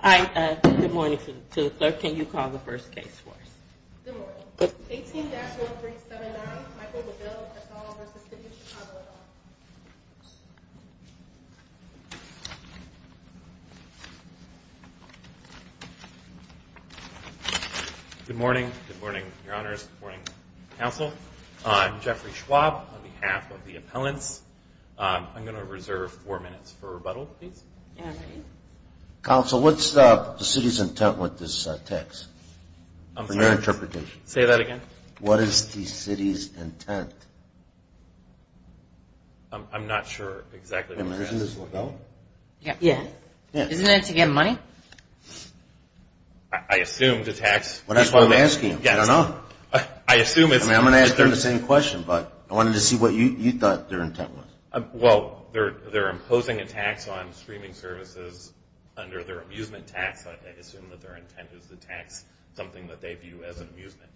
Hi, good morning to the clerk. Can you call the first case for us? Good morning. 18-1379 Michael DeBell v. City of Chicago Good morning. Good morning, your honors. Good morning, counsel. I'm Jeffrey Schwab on behalf of the appellants. I'm going to reserve four minutes for rebuttal, please. Counsel, what's the city's intent with this tax? Say that again. What is the city's intent? I'm not sure exactly what that is. Isn't it to get money? I assume the tax... That's what I'm asking. I don't know. I assume it's... I'm going to ask them the same question, but I wanted to see what you thought their intent was. Well, they're imposing a tax on streaming services under their amusement tax. I assume that their intent is to tax something that they view as amusement.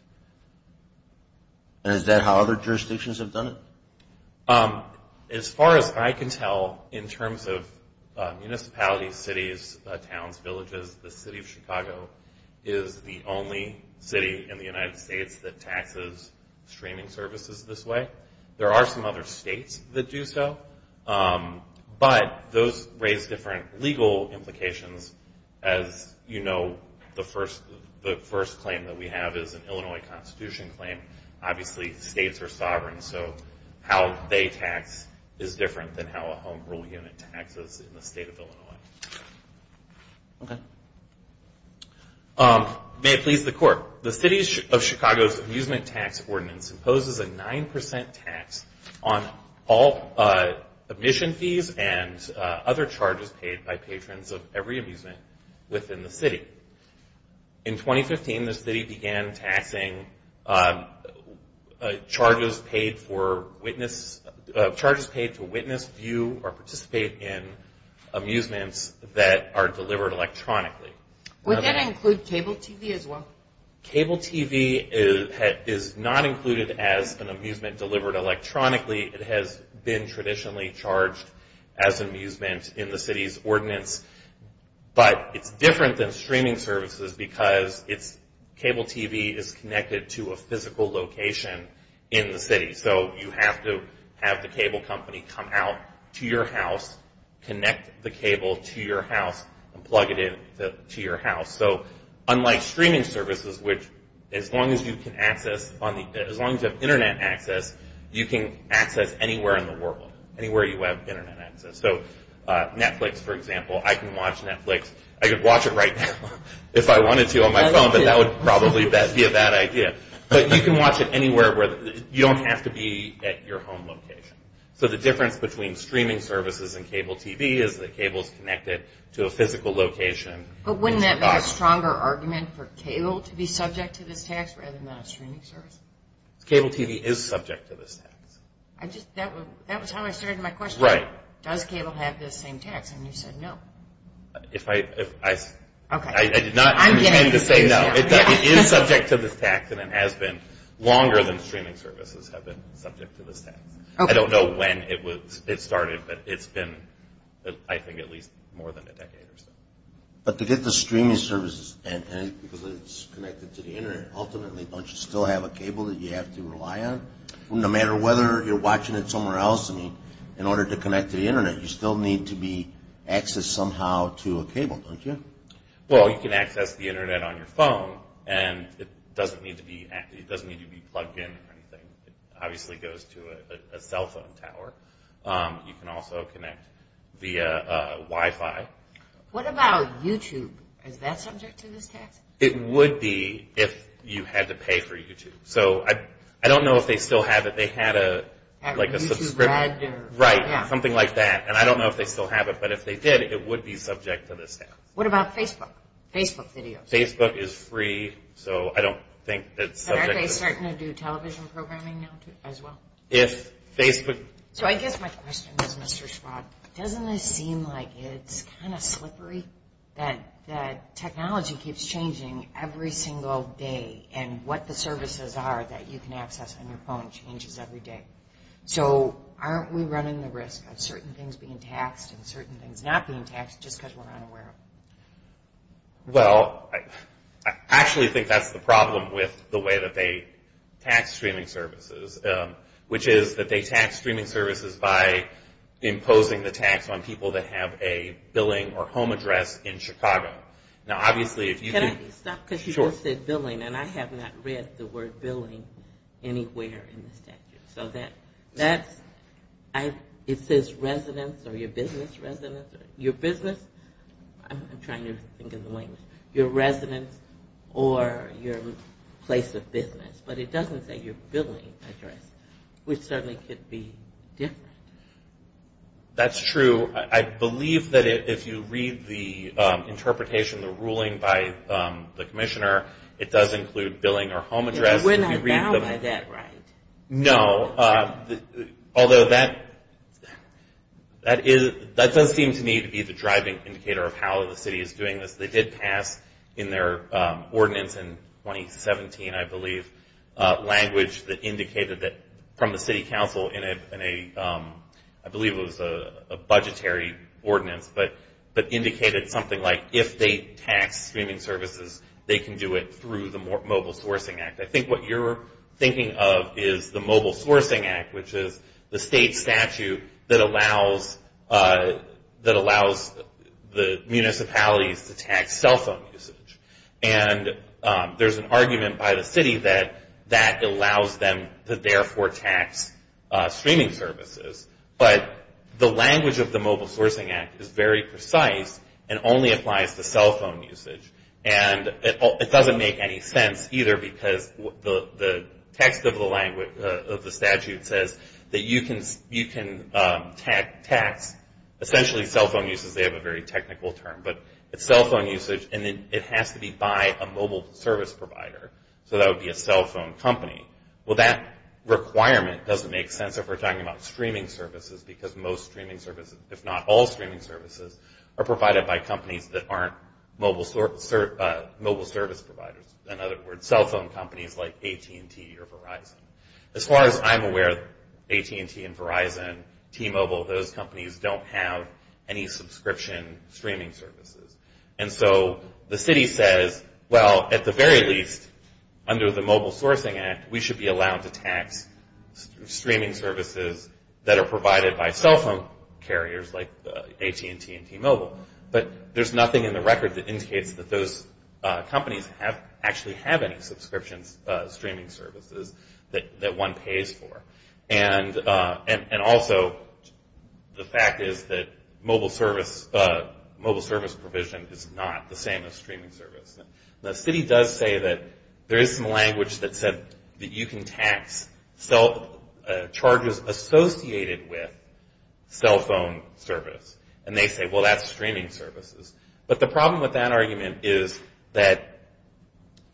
And is that how other jurisdictions have done it? As far as I can tell, in terms of municipalities, cities, towns, villages, the City of Chicago is the only city in the United States that taxes streaming services this way. There are some other states that do so. But those raise different legal implications. As you know, the first claim that we have is an Illinois Constitution claim. Obviously, states are sovereign. So how they tax is different than how a home rule unit taxes in the state of Illinois. Okay. May it please the Court. The City of Chicago's amusement tax ordinance imposes a 9% tax on all admission fees and other charges paid by patrons of every amusement within the city. In 2015, the city began taxing charges paid to witness, view, or participate in amusements that are delivered electronically. Would that include cable TV as well? Cable TV is not included as an amusement delivered electronically. It has been traditionally charged as amusement in the city's ordinance. But it's different than streaming services because cable TV is connected to a physical location in the city. So you have to have the cable company come out to your house, connect the cable to your house, and plug it in to your house. So unlike streaming services, which as long as you have Internet access, you can access anywhere in the world, anywhere you have Internet access. So Netflix, for example, I can watch Netflix. I could watch it right now if I wanted to on my phone, but that would probably be a bad idea. But you can watch it anywhere. You don't have to be at your home location. So the difference between streaming services and cable TV is that cable is connected to a physical location. But wouldn't that make a stronger argument for cable to be subject to this tax rather than a streaming service? Cable TV is subject to this tax. That was how I started my question. Right. Does cable have this same tax? And you said no. I did not intend to say no. It is subject to this tax, and it has been longer than streaming services have been subject to this tax. I don't know when it started, but it's been, I think, at least more than a decade or so. But to get the streaming services, because it's connected to the Internet, ultimately don't you still have a cable that you have to rely on? No matter whether you're watching it somewhere else, in order to connect to the Internet, you still need to be accessed somehow to a cable, don't you? Well, you can access the Internet on your phone, and it doesn't need to be plugged in or anything. It obviously goes to a cell phone tower. You can also connect via Wi-Fi. What about YouTube? Is that subject to this tax? It would be if you had to pay for YouTube. So I don't know if they still have it. They had a subscription. Right, something like that. And I don't know if they still have it, but if they did, it would be subject to this tax. What about Facebook, Facebook videos? Facebook is free, so I don't think it's subject to this tax. Are they starting to do television programming now as well? So I guess my question is, Mr. Schwab, doesn't it seem like it's kind of slippery that technology keeps changing every single day, and what the services are that you can access on your phone changes every day? So aren't we running the risk of certain things being taxed and certain things not being taxed just because we're unaware of them? Well, I actually think that's the problem with the way that they tax streaming services, which is that they tax streaming services by imposing the tax on people that have a billing or home address in Chicago. Can I stop because you just said billing, and I have not read the word billing anywhere in the statute. So that's, it says residence or your business residence, your business, I'm trying to think of the language, your residence or your place of business, but it doesn't say your billing address, which certainly could be different. That's true. I believe that if you read the interpretation, the ruling by the commissioner, it does include billing or home address. We're not allowed by that, right? No, although that does seem to me to be the driving indicator of how the city is doing this. They did pass in their ordinance in 2017, I believe, language that indicated that from the city council in a, I believe it was a budgetary ordinance, but indicated something like if they tax streaming services, they can do it through the Mobile Sourcing Act. I think what you're thinking of is the Mobile Sourcing Act, which is the state statute that allows the municipalities to tax cell phone usage. And there's an argument by the city that that allows them to therefore tax streaming services, but the language of the Mobile Sourcing Act is very precise and only applies to cell phone usage. And it doesn't make any sense either, because the text of the statute says that you can tax, essentially cell phone usage, they have a very technical term, but it's cell phone usage and it has to be by a mobile service provider. So that would be a cell phone company. Well, that requirement doesn't make sense if we're talking about streaming services, because most streaming services, if not all streaming services, are provided by companies that aren't mobile service providers. In other words, cell phone companies like AT&T or Verizon. As far as I'm aware, AT&T and Verizon, T-Mobile, those companies don't have any subscription streaming services. And so the city says, well, at the very least, under the Mobile Sourcing Act, we should be allowed to tax streaming services that are provided by cell phone carriers, like AT&T and T-Mobile. But there's nothing in the record that indicates that those companies actually have any subscription streaming services that one pays for. And also, the fact is that mobile service provision is not the same as streaming service. The city does say that there is some language that said that you can tax charges associated with cell phone service. And they say, well, that's streaming services. But the problem with that argument is that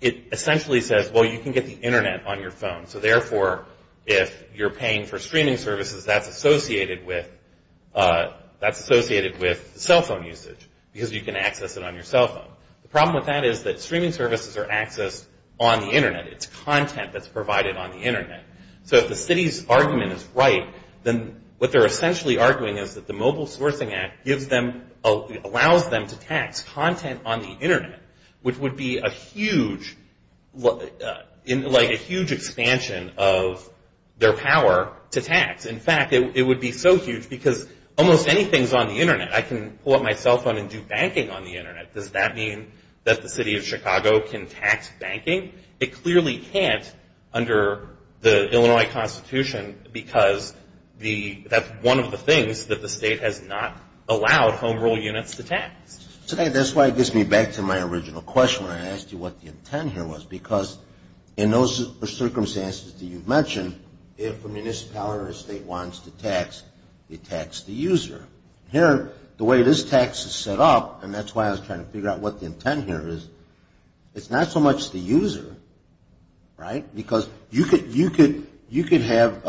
it essentially says, well, you can get the Internet on your phone. So therefore, if you're paying for streaming services, that's associated with cell phone usage, because you can access it on your cell phone. The problem with that is that streaming services are accessed on the Internet. It's content that's provided on the Internet. So if the city's argument is right, then what they're essentially arguing is that the Mobile Sourcing Act allows them to tax content on the Internet, which would be a huge expansion of their power to tax. In fact, it would be so huge, because almost anything is on the Internet. I can pull up my cell phone and do banking on the Internet. Does that mean that the city of Chicago can tax banking? It clearly can't under the Illinois Constitution, because that's one of the things that the state has not allowed home rule units to tax. That's why it gets me back to my original question when I asked you what the intent here was, because in those circumstances that you mentioned, if a municipality or a state wants to tax, they tax the user. Here, the way this tax is set up, and that's why I was trying to figure out what the intent here is, is it's not so much the user, right? Because you could have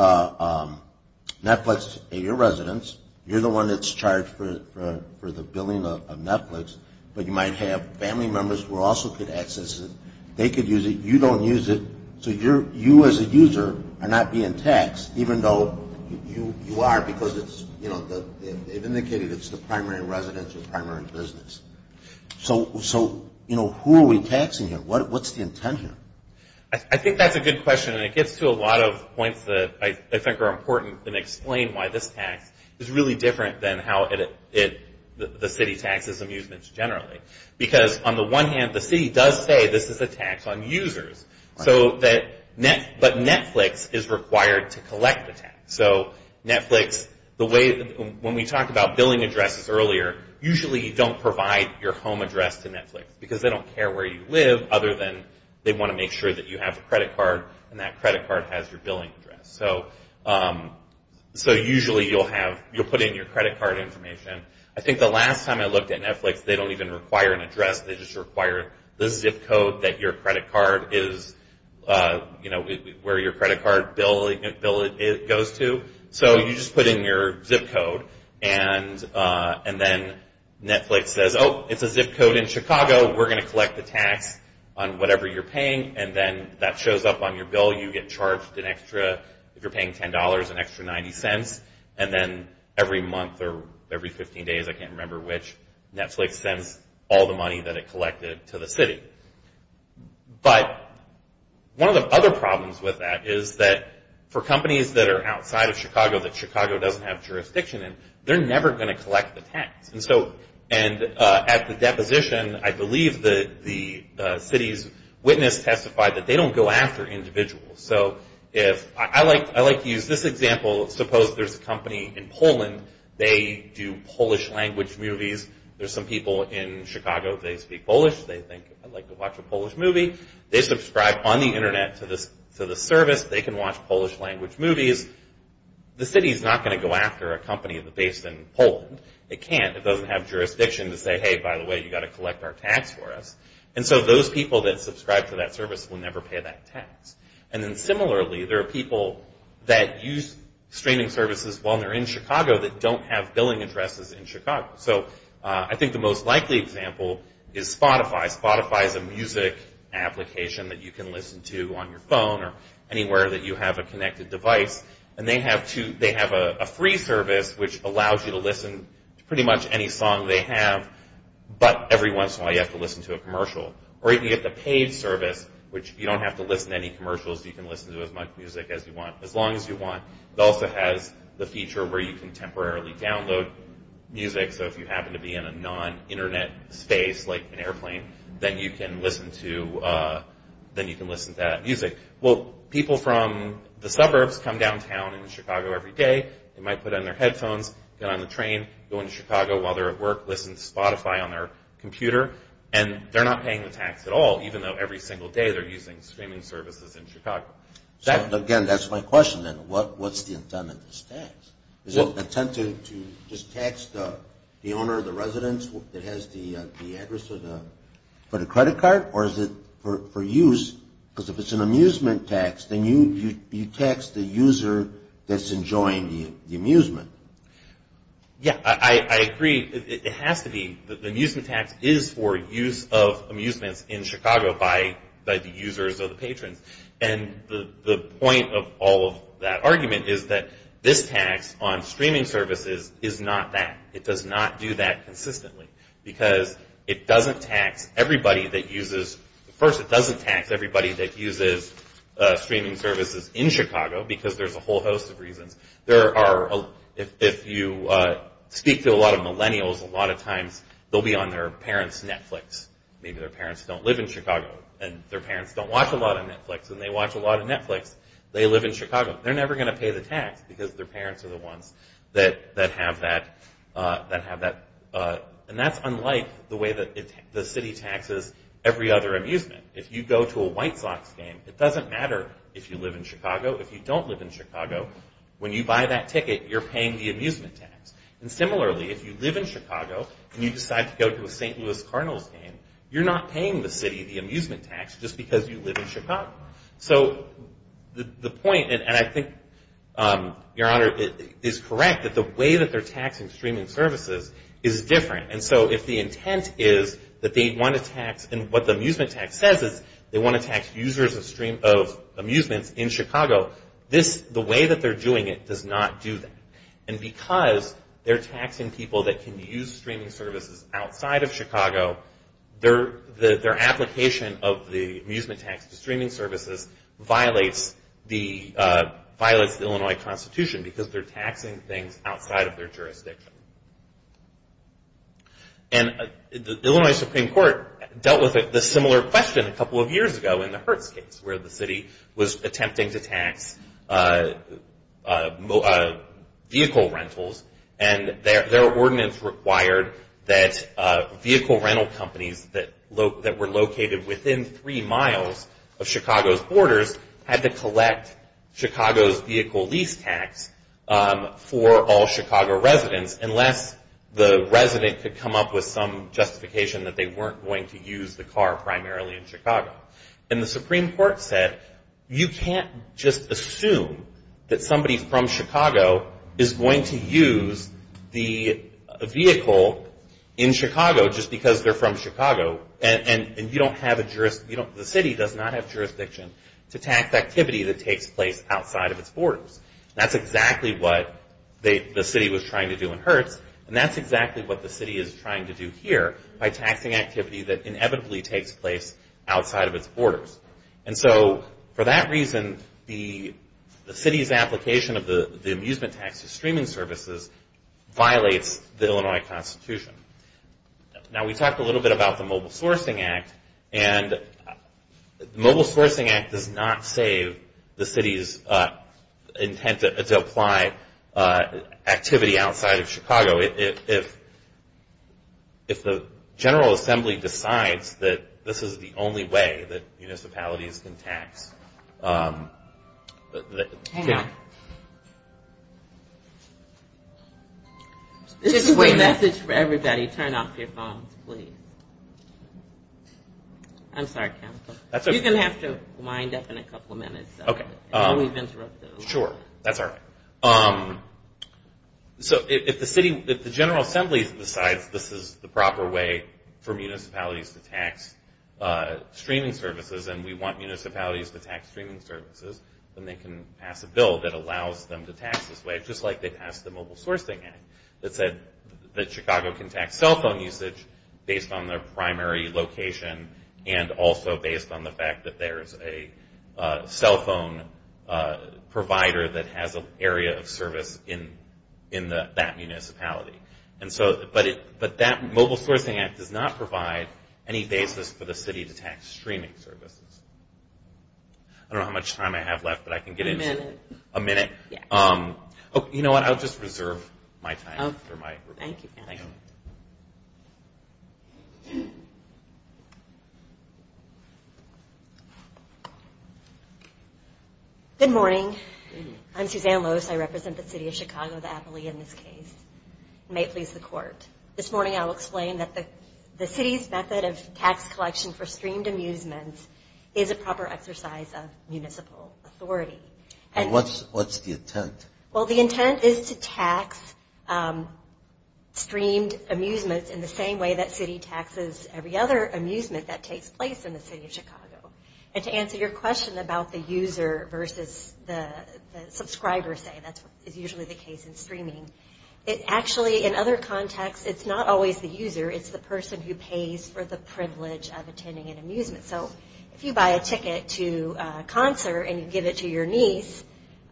Netflix at your residence. You're the one that's charged for the billing of Netflix, but you might have family members who also could access it. They could use it. You don't use it. So you as a user are not being taxed, even though you are, because they've indicated it's the primary residence or primary business. So who are we taxing here? What's the intent here? I think that's a good question, and it gets to a lot of points that I think are important and explain why this tax is really different than how the city taxes amusements generally. Because on the one hand, the city does say this is a tax on users, but Netflix is required to collect the tax. So Netflix, when we talked about billing addresses earlier, usually you don't provide your home address to Netflix, because they don't care where you live other than they want to make sure that you have a credit card, and that credit card has your billing address. So usually you'll put in your credit card information. I think the last time I looked at Netflix, they don't even require an address. They just require the zip code that your credit card is, you know, where your credit card bill goes to. So you just put in your zip code, and then Netflix says, oh, it's a zip code in Chicago, we're going to collect the tax on whatever you're paying, and then that shows up on your bill. You get charged an extra, if you're paying $10, an extra 90 cents, and then every month or every 15 days, I can't remember which, Netflix sends all the money that it collected to the city. But one of the other problems with that is that for companies that are outside of Chicago, that Chicago doesn't have jurisdiction in, they're never going to collect the tax. And at the deposition, I believe the city's witness testified that they don't go after individuals. So I like to use this example. Suppose there's a company in Poland. They do Polish language movies. There's some people in Chicago, they speak Polish. They think, I'd like to watch a Polish movie. They subscribe on the Internet to the service. They can watch Polish language movies. The city's not going to go after a company based in Poland. It can't. It doesn't have jurisdiction to say, hey, by the way, you've got to collect our tax for us. And so those people that subscribe to that service will never pay that tax. And then similarly, there are people that use streaming services while they're in Chicago that don't have billing addresses in Chicago. So I think the most likely example is Spotify. Spotify is a music application that you can listen to on your phone or anywhere that you have a connected device. And they have a free service which allows you to listen to pretty much any song they have, but every once in a while you have to listen to a commercial. Or you can get the paid service, which you don't have to listen to any commercials. You can listen to as much music as you want, as long as you want. It also has the feature where you can temporarily download music. So if you happen to be in a non-Internet space like an airplane, then you can listen to that music. Well, people from the suburbs come downtown into Chicago every day. They might put on their headphones, get on the train, go into Chicago while they're at work, listen to Spotify on their computer, and they're not paying the tax at all, even though every single day they're using streaming services in Chicago. So again, that's my question then. What's the intent of this tax? Is it intended to just tax the owner of the residence that has the address for the credit card? Or is it for use? Because if it's an amusement tax, then you tax the user that's enjoying the amusement. Yeah, I agree. It has to be. The amusement tax is for use of amusements in Chicago by the users or the patrons. And the point of all of that argument is that this tax on streaming services is not that. It does not do that consistently. Because it doesn't tax everybody that uses streaming services in Chicago, because there's a whole host of reasons. If you speak to a lot of millennials, a lot of times they'll be on their parents' Netflix. Maybe their parents don't live in Chicago, and their parents don't watch a lot of Netflix, and they watch a lot of Netflix. They live in Chicago. They're never going to pay the tax, because their parents are the ones that have that. And that's unlike the way that the city taxes every other amusement. If you go to a White Sox game, it doesn't matter if you live in Chicago. If you don't live in Chicago, when you buy that ticket, you're paying the amusement tax. And similarly, if you live in Chicago, and you decide to go to a St. Louis Cardinals game, you're not paying the city the amusement tax just because you live in Chicago. So the point, and I think, Your Honor, is correct, that the way that they're taxing streaming services is different. And so if the intent is that they want to tax, and what the amusement tax says is they want to tax users of amusements in Chicago, the way that they're doing it does not do that. And because they're taxing people that can use streaming services outside of Chicago, their application of the amusement tax to streaming services violates the Illinois Constitution, because they're taxing things outside of their jurisdiction. And the Illinois Supreme Court dealt with this similar question a couple of years ago in the Hertz case, where the city was attempting to tax vehicle rentals. And their ordinance required that vehicle rental companies that were located within three miles of Chicago's borders had to collect Chicago's vehicle lease tax for all Chicago residents, unless the resident could come up with some justification that they weren't going to use the car primarily in Chicago. And the Supreme Court said you can't just assume that somebody from Chicago is going to use the vehicle in Chicago just because they're from Chicago, and you don't have a jurisdiction, the city does not have jurisdiction to tax activity that takes place outside of its borders. That's exactly what the city was trying to do in Hertz, and that's exactly what the city is trying to do here, by taxing activity that inevitably takes place outside of its borders. And so for that reason, the city's application of the amusement tax to streaming services violates the Illinois Constitution. Now we talked a little bit about the Mobile Sourcing Act, and the Mobile Sourcing Act does not save the city's intent to apply activity outside of Chicago. So if the General Assembly decides that this is the only way that municipalities can tax... Hang on. This is my message for everybody. Turn off your phones, please. I'm sorry, Councilor. You're going to have to wind up in a couple of minutes. Sure, that's all right. So if the General Assembly decides this is the proper way for municipalities to tax streaming services and we want municipalities to tax streaming services, then they can pass a bill that allows them to tax this way, just like they passed the Mobile Sourcing Act that said that Chicago can tax cell phone usage based on their primary location and also based on the fact that there is a cell phone provider that has an area of service in that municipality. But that Mobile Sourcing Act does not provide any basis for the city to tax streaming services. I don't know how much time I have left, but I can get into it. A minute. A minute. You know what? I'll just reserve my time for my report. Thank you. Thank you. Good morning. I'm Suzanne Loos. I represent the city of Chicago, the Appalachian, in this case. It may please the Court. This morning I will explain that the city's method of tax collection for streamed amusements is a proper exercise of municipal authority. And what's the intent? Well, the intent is to tax streamed amusements in the same way that city taxes every other amusement that takes place in the city of Chicago. And to answer your question about the user versus the subscriber, say, that is usually the case in streaming, it actually, in other contexts, it's not always the user. It's the person who pays for the privilege of attending an amusement. So if you buy a ticket to a concert and you give it to your niece,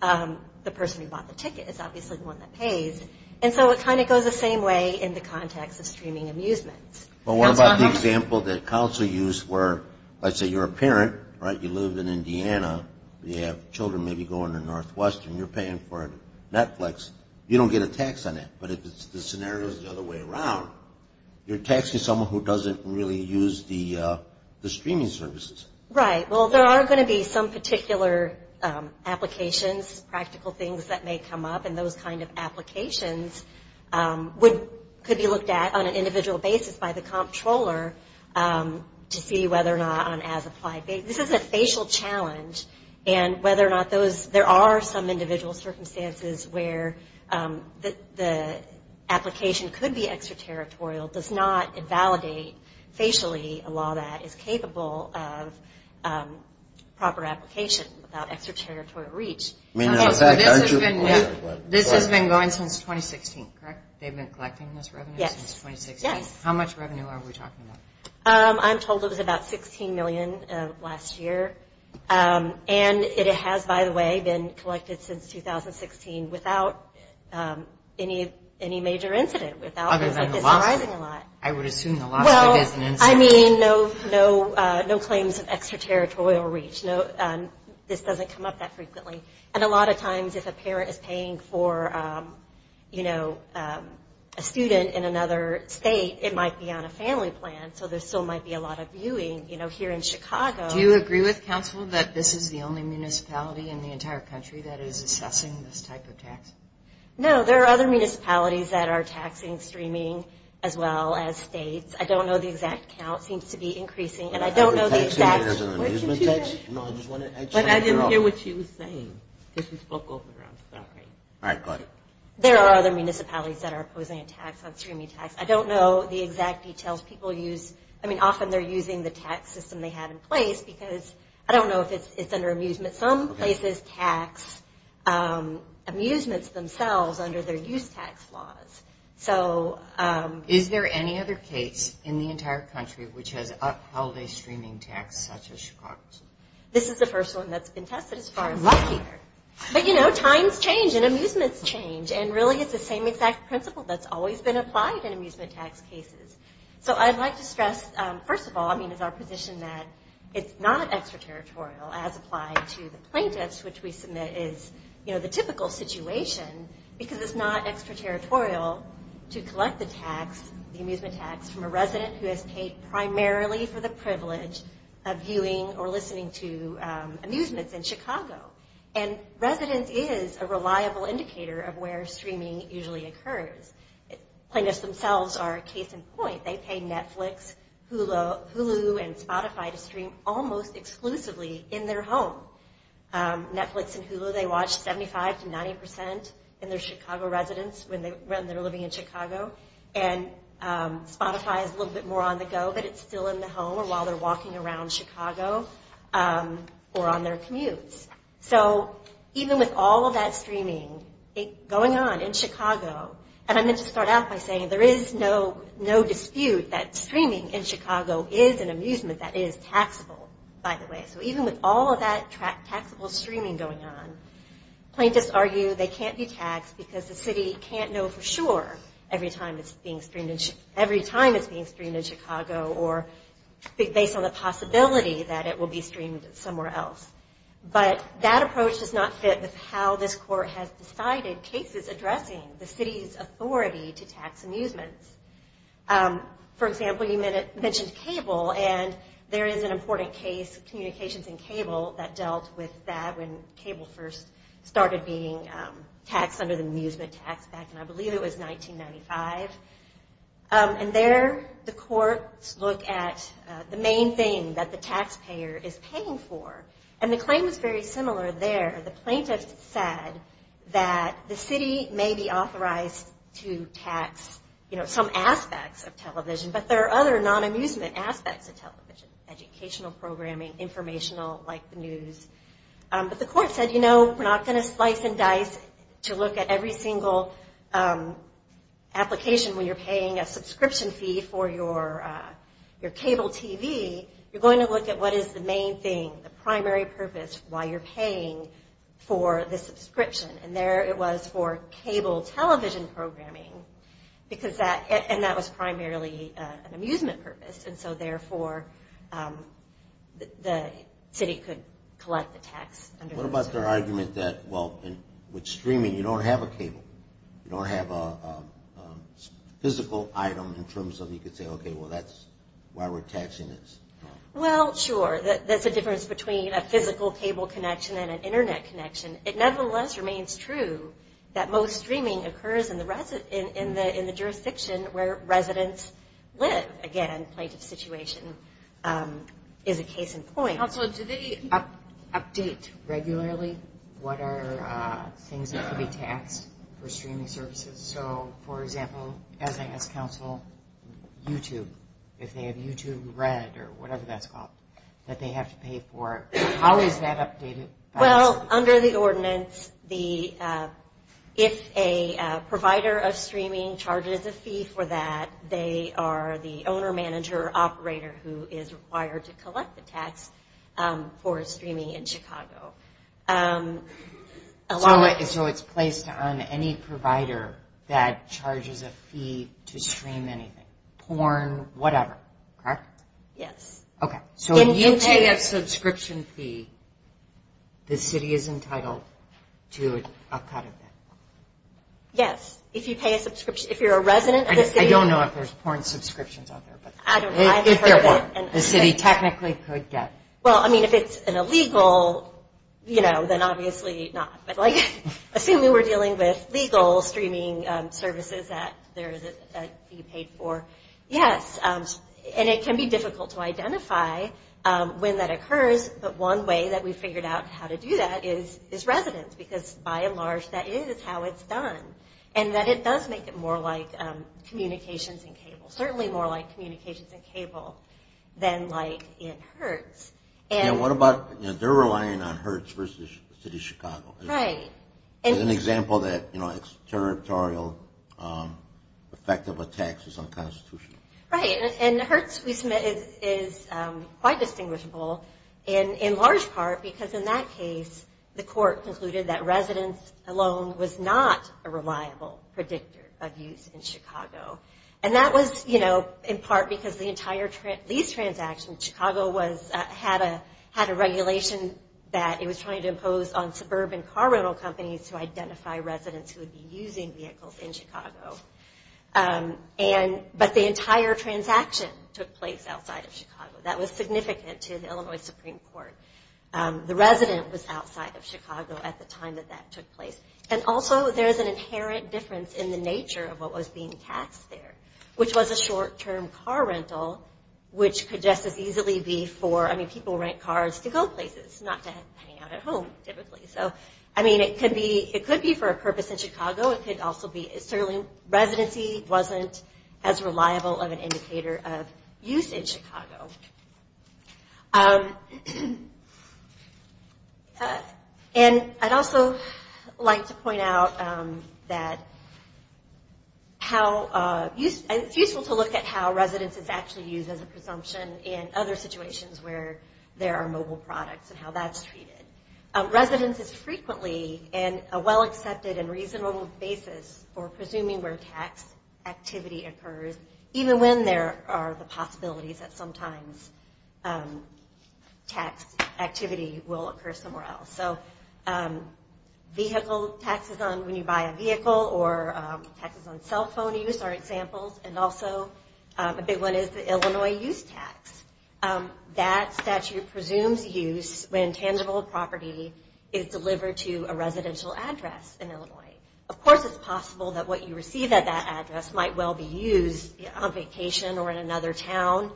the person who bought the ticket is obviously the one that pays. And so it kind of goes the same way in the context of streaming amusements. Well, what about the example that counsel used where, let's say, you're a parent, right? You live in Indiana. You have children maybe going to Northwestern. You're paying for Netflix. You don't get a tax on that. But if the scenario is the other way around, you're taxing someone who doesn't really use the streaming services. Right. Well, there are going to be some particular applications, practical things that may come up, and those kind of applications could be looked at on an individual basis by the comptroller to see whether or not on an as-applied basis. This is a facial challenge, and whether or not there are some individual circumstances where the application could be extraterritorial does not validate facially a law that is capable of proper application without extraterritorial reach. This has been going since 2016, correct? They've been collecting this revenue since 2016? Yes. How much revenue are we talking about? I'm told it was about $16 million last year. And it has, by the way, been collected since 2016 without any major incident, without anything surprising a lot. I would assume the lawsuit is an incident. Well, I mean, no claims of extraterritorial reach. This doesn't come up that frequently. And a lot of times if a parent is paying for a student in another state, it might be on a family plan, so there still might be a lot of viewing here in Chicago. Do you agree with counsel that this is the only municipality in the entire country that is assessing this type of tax? No. There are other municipalities that are taxing streaming as well as states. I don't know the exact count. It seems to be increasing. And I don't know the exact – I'm not taxing it as an amusement tax. No, I just want to – But I didn't hear what she was saying. She spoke over. I'm sorry. All right. Go ahead. There are other municipalities that are imposing a tax on streaming tax. I don't know the exact details. I mean, often they're using the tax system they have in place because – I don't know if it's under amusement. Some places tax amusements themselves under their use tax laws. So – Is there any other case in the entire country which has upheld a streaming tax such as Chicago? This is the first one that's been tested as far as I'm aware. I'm lucky. But, you know, times change and amusements change. And really it's the same exact principle that's always been applied in amusement tax cases. So I'd like to stress, first of all, I mean, it's our position that it's not extraterritorial, as applied to the plaintiffs, which we submit is, you know, the typical situation, because it's not extraterritorial to collect the tax, the amusement tax, from a resident who has paid primarily for the privilege of viewing or listening to amusements in Chicago. And residence is a reliable indicator of where streaming usually occurs. Plaintiffs themselves are a case in point. They pay Netflix, Hulu, and Spotify to stream almost exclusively in their home. Netflix and Hulu they watch 75 to 90 percent in their Chicago residence when they're living in Chicago. And Spotify is a little bit more on the go, but it's still in the home or while they're walking around Chicago or on their commutes. So even with all of that streaming going on in Chicago, and I meant to start out by saying there is no dispute that streaming in Chicago is an amusement that is taxable, by the way. So even with all of that taxable streaming going on, plaintiffs argue they can't be taxed because the city can't know for sure every time it's being streamed in Chicago or based on the possibility that it will be streamed somewhere else. But that approach does not fit with how this court has decided cases addressing the city's authority to tax amusements. For example, you mentioned cable, and there is an important case, Communications and Cable, that dealt with that when cable first started being taxed under the amusement tax back in, I believe it was 1995. And there the courts look at the main thing that the taxpayer is paying for and the claim is very similar there. The plaintiff said that the city may be authorized to tax some aspects of television, but there are other non-amusement aspects of television, educational programming, informational like the news. But the court said, you know, we're not going to slice and dice to look at every single application when you're paying a subscription fee for your cable TV, you're going to look at what is the main thing, the primary purpose why you're paying for the subscription. And there it was for cable television programming, and that was primarily an amusement purpose, and so therefore the city could collect the tax. What about their argument that, well, with streaming you don't have a cable, you don't have a physical item in terms of you could say, okay, well that's why we're taxing this. Well, sure, there's a difference between a physical cable connection and an Internet connection. It nevertheless remains true that most streaming occurs in the jurisdiction where residents live. Again, plaintiff's situation is a case in point. Counsel, do they update regularly what are things that could be taxed for streaming services? So, for example, as I ask counsel, YouTube, if they have YouTube Red or whatever that's called that they have to pay for, how is that updated? Well, under the ordinance, if a provider of streaming charges a fee for that, they are the owner, manager, or operator who is required to collect the tax for streaming in Chicago. So it's placed on any provider that charges a fee to stream anything, porn, whatever, correct? Yes. Okay. So if you pay a subscription fee, the city is entitled to a cut of that? Yes. If you pay a subscription, if you're a resident of the city. I don't know if there's porn subscriptions out there, but if there were, the city technically could get. Well, I mean, if it's an illegal, you know, then obviously not. Assuming we're dealing with legal streaming services that there is a fee paid for, yes, and it can be difficult to identify when that occurs, but one way that we've figured out how to do that is residents, because by and large that is how it's done, and that it does make it more like communications and cable, certainly more like communications and cable than like in Hertz. Yeah, what about, you know, they're relying on Hertz versus the city of Chicago. Right. As an example that, you know, territorial effect of a tax is unconstitutional. Right, and Hertz, we submit, is quite distinguishable in large part because in that case, the court concluded that residents alone was not a reliable predictor of use in Chicago, and that was, you know, in part because the entire lease transaction in Chicago had a regulation that it was trying to impose on suburban car rental companies to identify residents who would be using vehicles in Chicago, but the entire transaction took place outside of Chicago. That was significant to the Illinois Supreme Court. The resident was outside of Chicago at the time that that took place, and also there's an inherent difference in the nature of what was being taxed there, which was a short-term car rental, which could just as easily be for, I mean, people rent cars to go places, not to hang out at home typically. So, I mean, it could be for a purpose in Chicago. It could also be certainly residency wasn't as reliable of an indicator of use in Chicago. And I'd also like to point out that it's useful to look at how residence is actually used as a presumption in other situations where there are mobile products and how that's treated. Residence is frequently in a well-accepted and reasonable basis for presuming where tax activity occurs, even when there are the possibilities that sometimes tax activity will occur somewhere else. So vehicle taxes on when you buy a vehicle or taxes on cell phone use are examples, and also a big one is the Illinois use tax. That statute presumes use when tangible property is delivered to a residential address in Illinois. Of course, it's possible that what you receive at that address might well be used on vacation or in another town,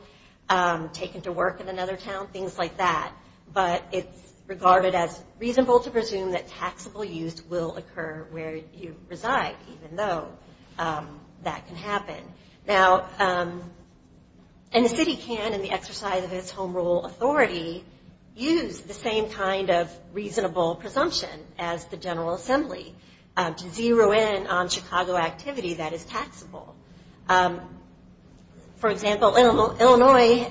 taken to work in another town, things like that. But it's regarded as reasonable to presume that taxable use will occur where you reside, even though that can happen. Now, and the city can, in the exercise of its home rule authority, use the same kind of reasonable presumption as the General Assembly to zero in on Chicago activity that is taxable. For example, Illinois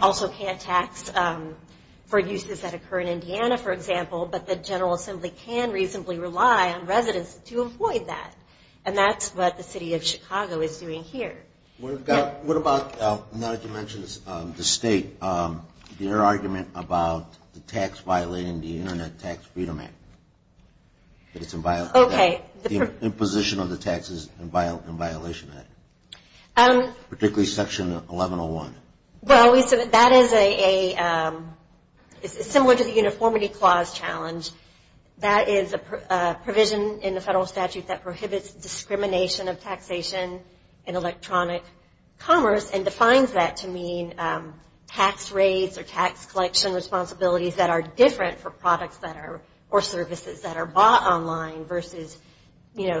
also can't tax for uses that occur in Indiana, for example, but the General Assembly can reasonably rely on residence to avoid that, and that's what the city of Chicago is doing here. What about, now that you mentioned the state, your argument about the tax violating the Internet Tax Freedom Act, the imposition of the taxes in violation of that, particularly Section 1101? Well, that is similar to the uniformity clause challenge. That is a provision in the federal statute that prohibits discrimination of taxation in electronic commerce and defines that to mean tax rates or tax collection responsibilities that are different for products or services that are bought online versus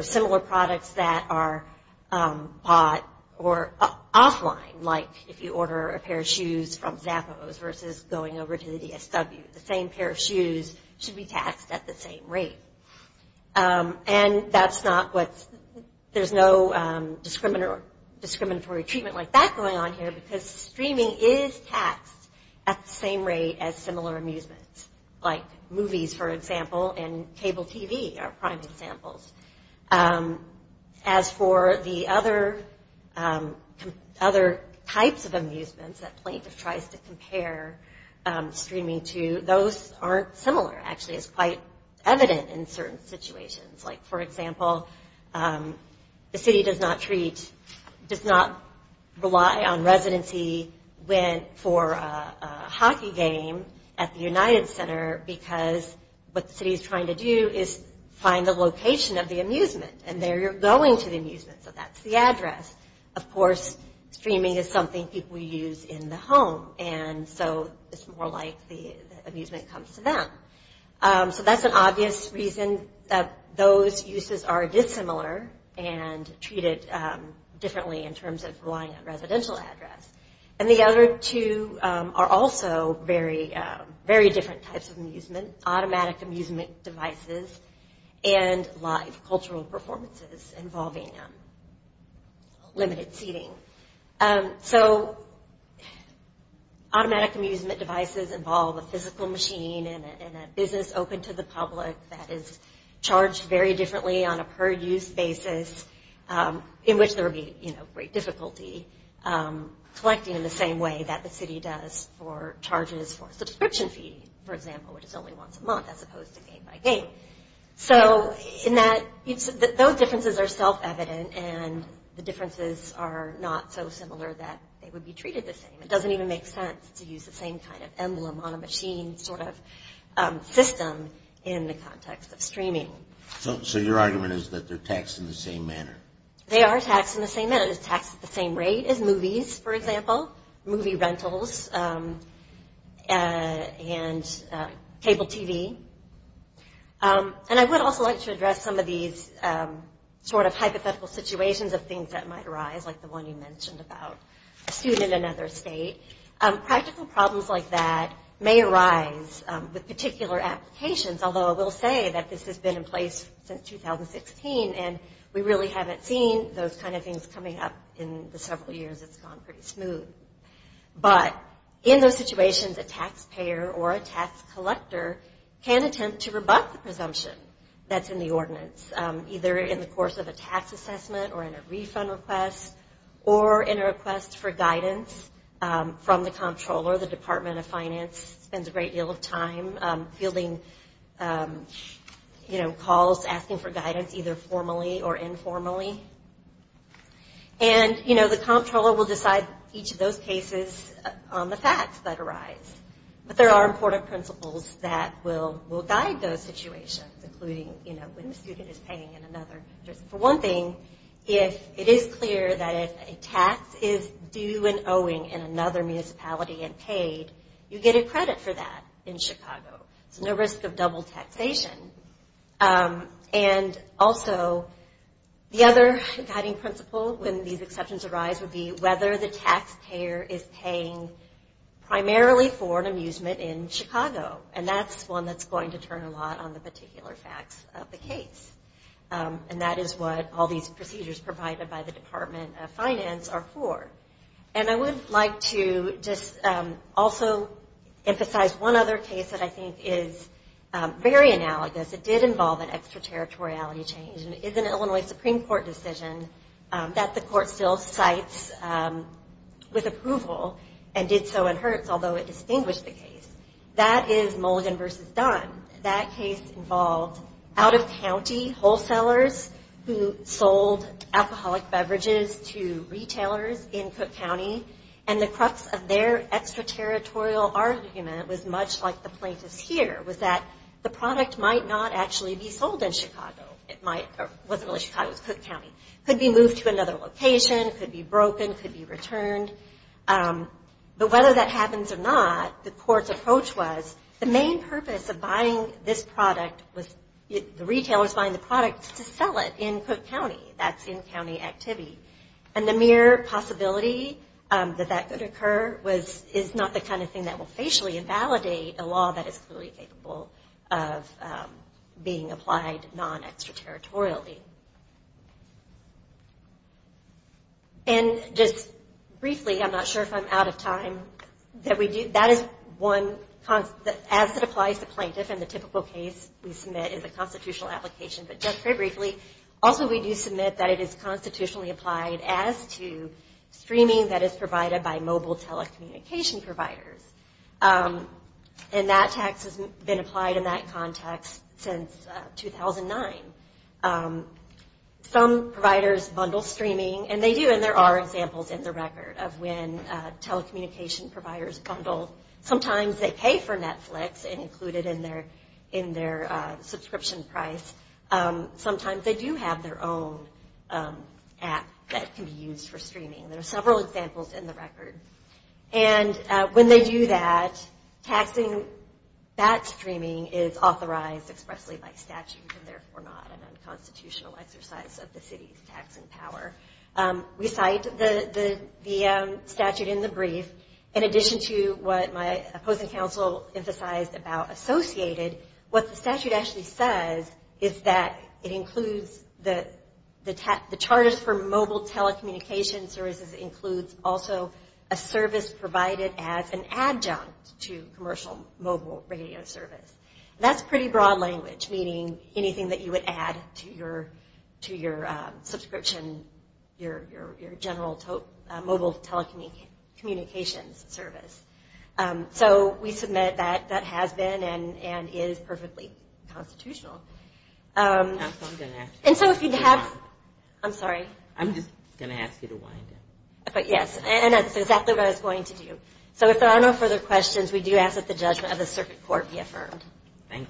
similar products that are bought or offline, like if you order a pair of shoes from Zappos versus going over to the DSW. The same pair of shoes should be taxed at the same rate. And there's no discriminatory treatment like that going on here because streaming is taxed at the same rate as similar amusements, like movies, for example, and cable TV are prime examples. As for the other types of amusements that plaintiff tries to compare streaming to, those aren't similar, actually, it's quite evident in certain situations. Like, for example, the city does not rely on residency for a hockey game at the United Center because what the city is trying to do is find the location of the amusement, and there you're going to the amusement, so that's the address. Of course, streaming is something people use in the home, and so it's more like the amusement comes to them. So that's an obvious reason that those uses are dissimilar and treated differently in terms of relying on residential address. And the other two are also very different types of amusement, automatic amusement devices and live cultural performances involving limited seating. So automatic amusement devices involve a physical machine and a business open to the public that is charged very differently on a per-use basis in which there would be great difficulty collecting in the same way that the city does for charges for a subscription fee, for example, which is only once a month as opposed to game by game. So in that, those differences are self-evident, and the differences are not so similar that they would be treated the same. It doesn't even make sense to use the same kind of emblem on a machine sort of system in the context of streaming. So your argument is that they're taxed in the same manner? They are taxed in the same manner. as movies, for example, movie rentals and cable TV. And I would also like to address some of these sort of hypothetical situations of things that might arise, like the one you mentioned about a student in another state. Practical problems like that may arise with particular applications, although I will say that this has been in place since 2016, and we really haven't seen those kind of things coming up in the several years. It's gone pretty smooth. But in those situations, a taxpayer or a tax collector can attempt to rebut the presumption that's in the ordinance, either in the course of a tax assessment or in a refund request or in a request for guidance from the comptroller. The Department of Finance spends a great deal of time fielding calls, asking for guidance either formally or informally. And, you know, the comptroller will decide each of those cases on the facts that arise. But there are important principles that will guide those situations, including, you know, when the student is paying in another. For one thing, if it is clear that a tax is due and owing in another municipality and paid, you get a credit for that in Chicago. There's no risk of double taxation. And also, the other guiding principle, when these exceptions arise, would be whether the taxpayer is paying primarily for an amusement in Chicago. And that's one that's going to turn a lot on the particular facts of the case. And that is what all these procedures provided by the Department of Finance are for. And I would like to just also emphasize one other case that I think is very analogous. It did involve an extraterritoriality change. And it is an Illinois Supreme Court decision that the court still cites with approval and did so in Hertz, although it distinguished the case. That is Mulligan v. Dunn. That case involved out-of-county wholesalers who sold alcoholic beverages to retailers in Cook County. And the crux of their extraterritorial argument was much like the plaintiff's here, was that the product might not actually be sold in Chicago. It wasn't really Chicago, it was Cook County. It could be moved to another location, it could be broken, it could be returned. But whether that happens or not, the court's approach was, the main purpose of buying this product was the retailers buying the product to sell it in Cook County. That's in-county activity. And the mere possibility that that could occur is not the kind of thing that will facially invalidate a law that is fully capable of being applied non-extraterritorially. And just briefly, I'm not sure if I'm out of time, that is one, as it applies to plaintiffs, and the typical case we submit is a constitutional application, but just very briefly, also we do submit that it is constitutionally applied as to streaming that is provided by mobile telecommunication providers. And that tax has been applied in that context since 2009. Some providers bundle streaming, and they do, and there are examples in the record of when telecommunication providers bundle, sometimes they pay for Netflix and include it in their subscription price. Sometimes they do have their own app that can be used for streaming. There are several examples in the record. And when they do that, taxing that streaming is authorized expressly by statute and therefore not an unconstitutional exercise of the city's taxing power. We cite the statute in the brief. In addition to what my opposing counsel emphasized about associated, what the statute actually says is that it includes the charges for mobile telecommunication services includes also a service provided as an adjunct to commercial mobile radio service. That's pretty broad language, meaning anything that you would add to your subscription, your general mobile telecommunications service. So we submit that that has been and is perfectly constitutional. And so if you have, I'm sorry. I'm just going to ask you to wind it. But yes, and that's exactly what I was going to do. So if there are no further questions, we do ask that the judgment of the circuit court be affirmed. Thank you.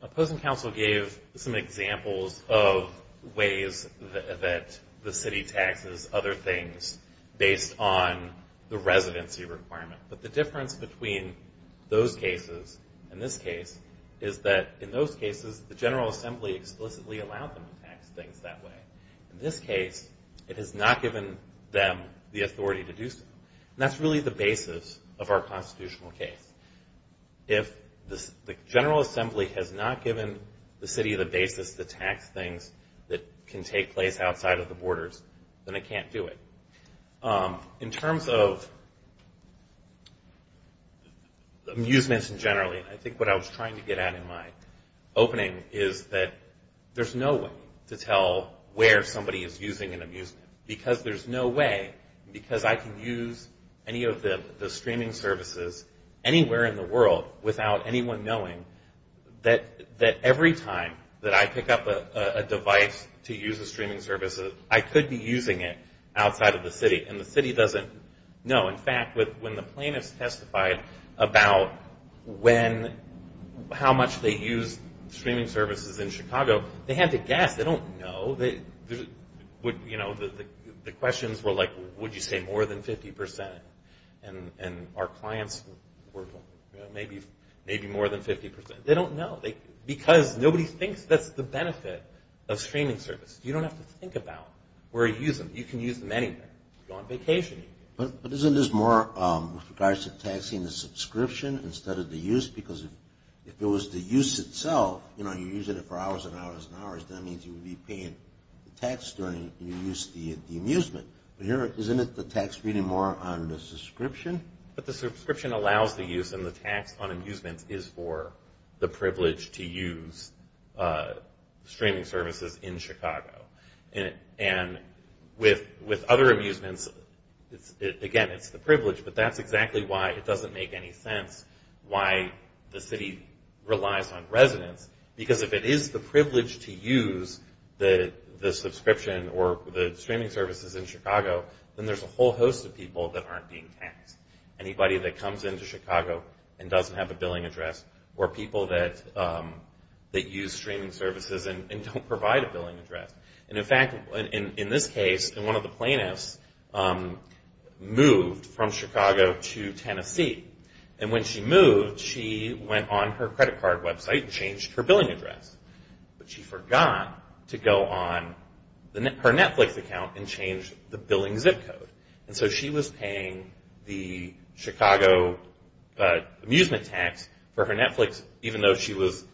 Opposing counsel gave some examples of ways that the city taxes other things based on the residency requirement. But the difference between those cases and this case is that in those cases, the General Assembly explicitly allowed them to tax things that way. In this case, it has not given them the authority to do so. And that's really the basis of our constitutional case. If the General Assembly has not given the city the basis to tax things that can take place outside of the borders, then it can't do it. In terms of amusements in general, I think what I was trying to get at in my opening is that there's no way to tell where somebody is using an amusement because there's no way because I can use any of the streaming services anywhere in the world without anyone knowing that every time that I pick up a device to use a streaming service, I could be using it outside of the city. And the city doesn't know. In fact, when the plaintiffs testified about how much they use streaming services in Chicago, they had to guess. They don't know. The questions were like, would you say more than 50%? And our clients were maybe more than 50%. They don't know because nobody thinks that's the benefit of streaming services. You don't have to think about where you use them. You can use them anywhere. If you're on vacation, you can. But isn't this more with regards to taxing the subscription instead of the use? Because if it was the use itself, you know, you're using it for hours and hours and hours, that means you would be paying the tax during your use of the amusement. But here, isn't it the tax really more on the subscription? But the subscription allows the use, and the tax on amusement is for the privilege to use streaming services in Chicago. And with other amusements, again, it's the privilege, but that's exactly why it doesn't make any sense why the city relies on residents. Because if it is the privilege to use the subscription or the streaming services in Chicago, then there's a whole host of people that aren't being taxed. Anybody that comes into Chicago and doesn't have a billing address or people that use streaming services and don't provide a billing address. And in fact, in this case, one of the plaintiffs moved from Chicago to Tennessee. And when she moved, she went on her credit card website and changed her billing address. But she forgot to go on her Netflix account and change the billing zip code. And so she was paying the Chicago amusement tax for her Netflix, even though she was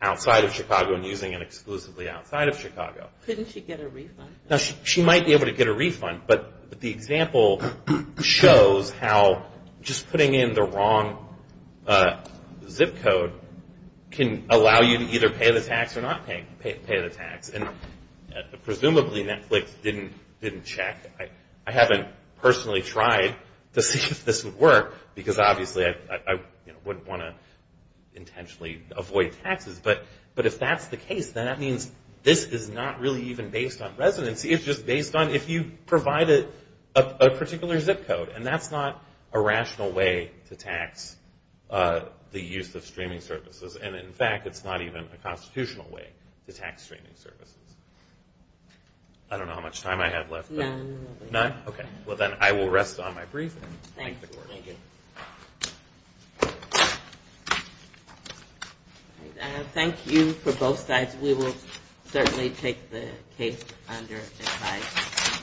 outside of Chicago and using it exclusively outside of Chicago. Couldn't she get a refund? Now, she might be able to get a refund, but the example shows how just putting in the wrong zip code can allow you to either pay the tax or not pay the tax. And presumably Netflix didn't check. I haven't personally tried to see if this would work, because obviously I wouldn't want to intentionally avoid taxes. But if that's the case, then that means this is not really even based on residency. It's just based on if you provide a particular zip code. And that's not a rational way to tax the use of streaming services. And in fact, it's not even a constitutional way to tax streaming services. I don't know how much time I have left. None. None? Okay. Well, then I will rest on my brief and thank the Court. Thank you. Thank you for both sides. We will certainly take the case under advice.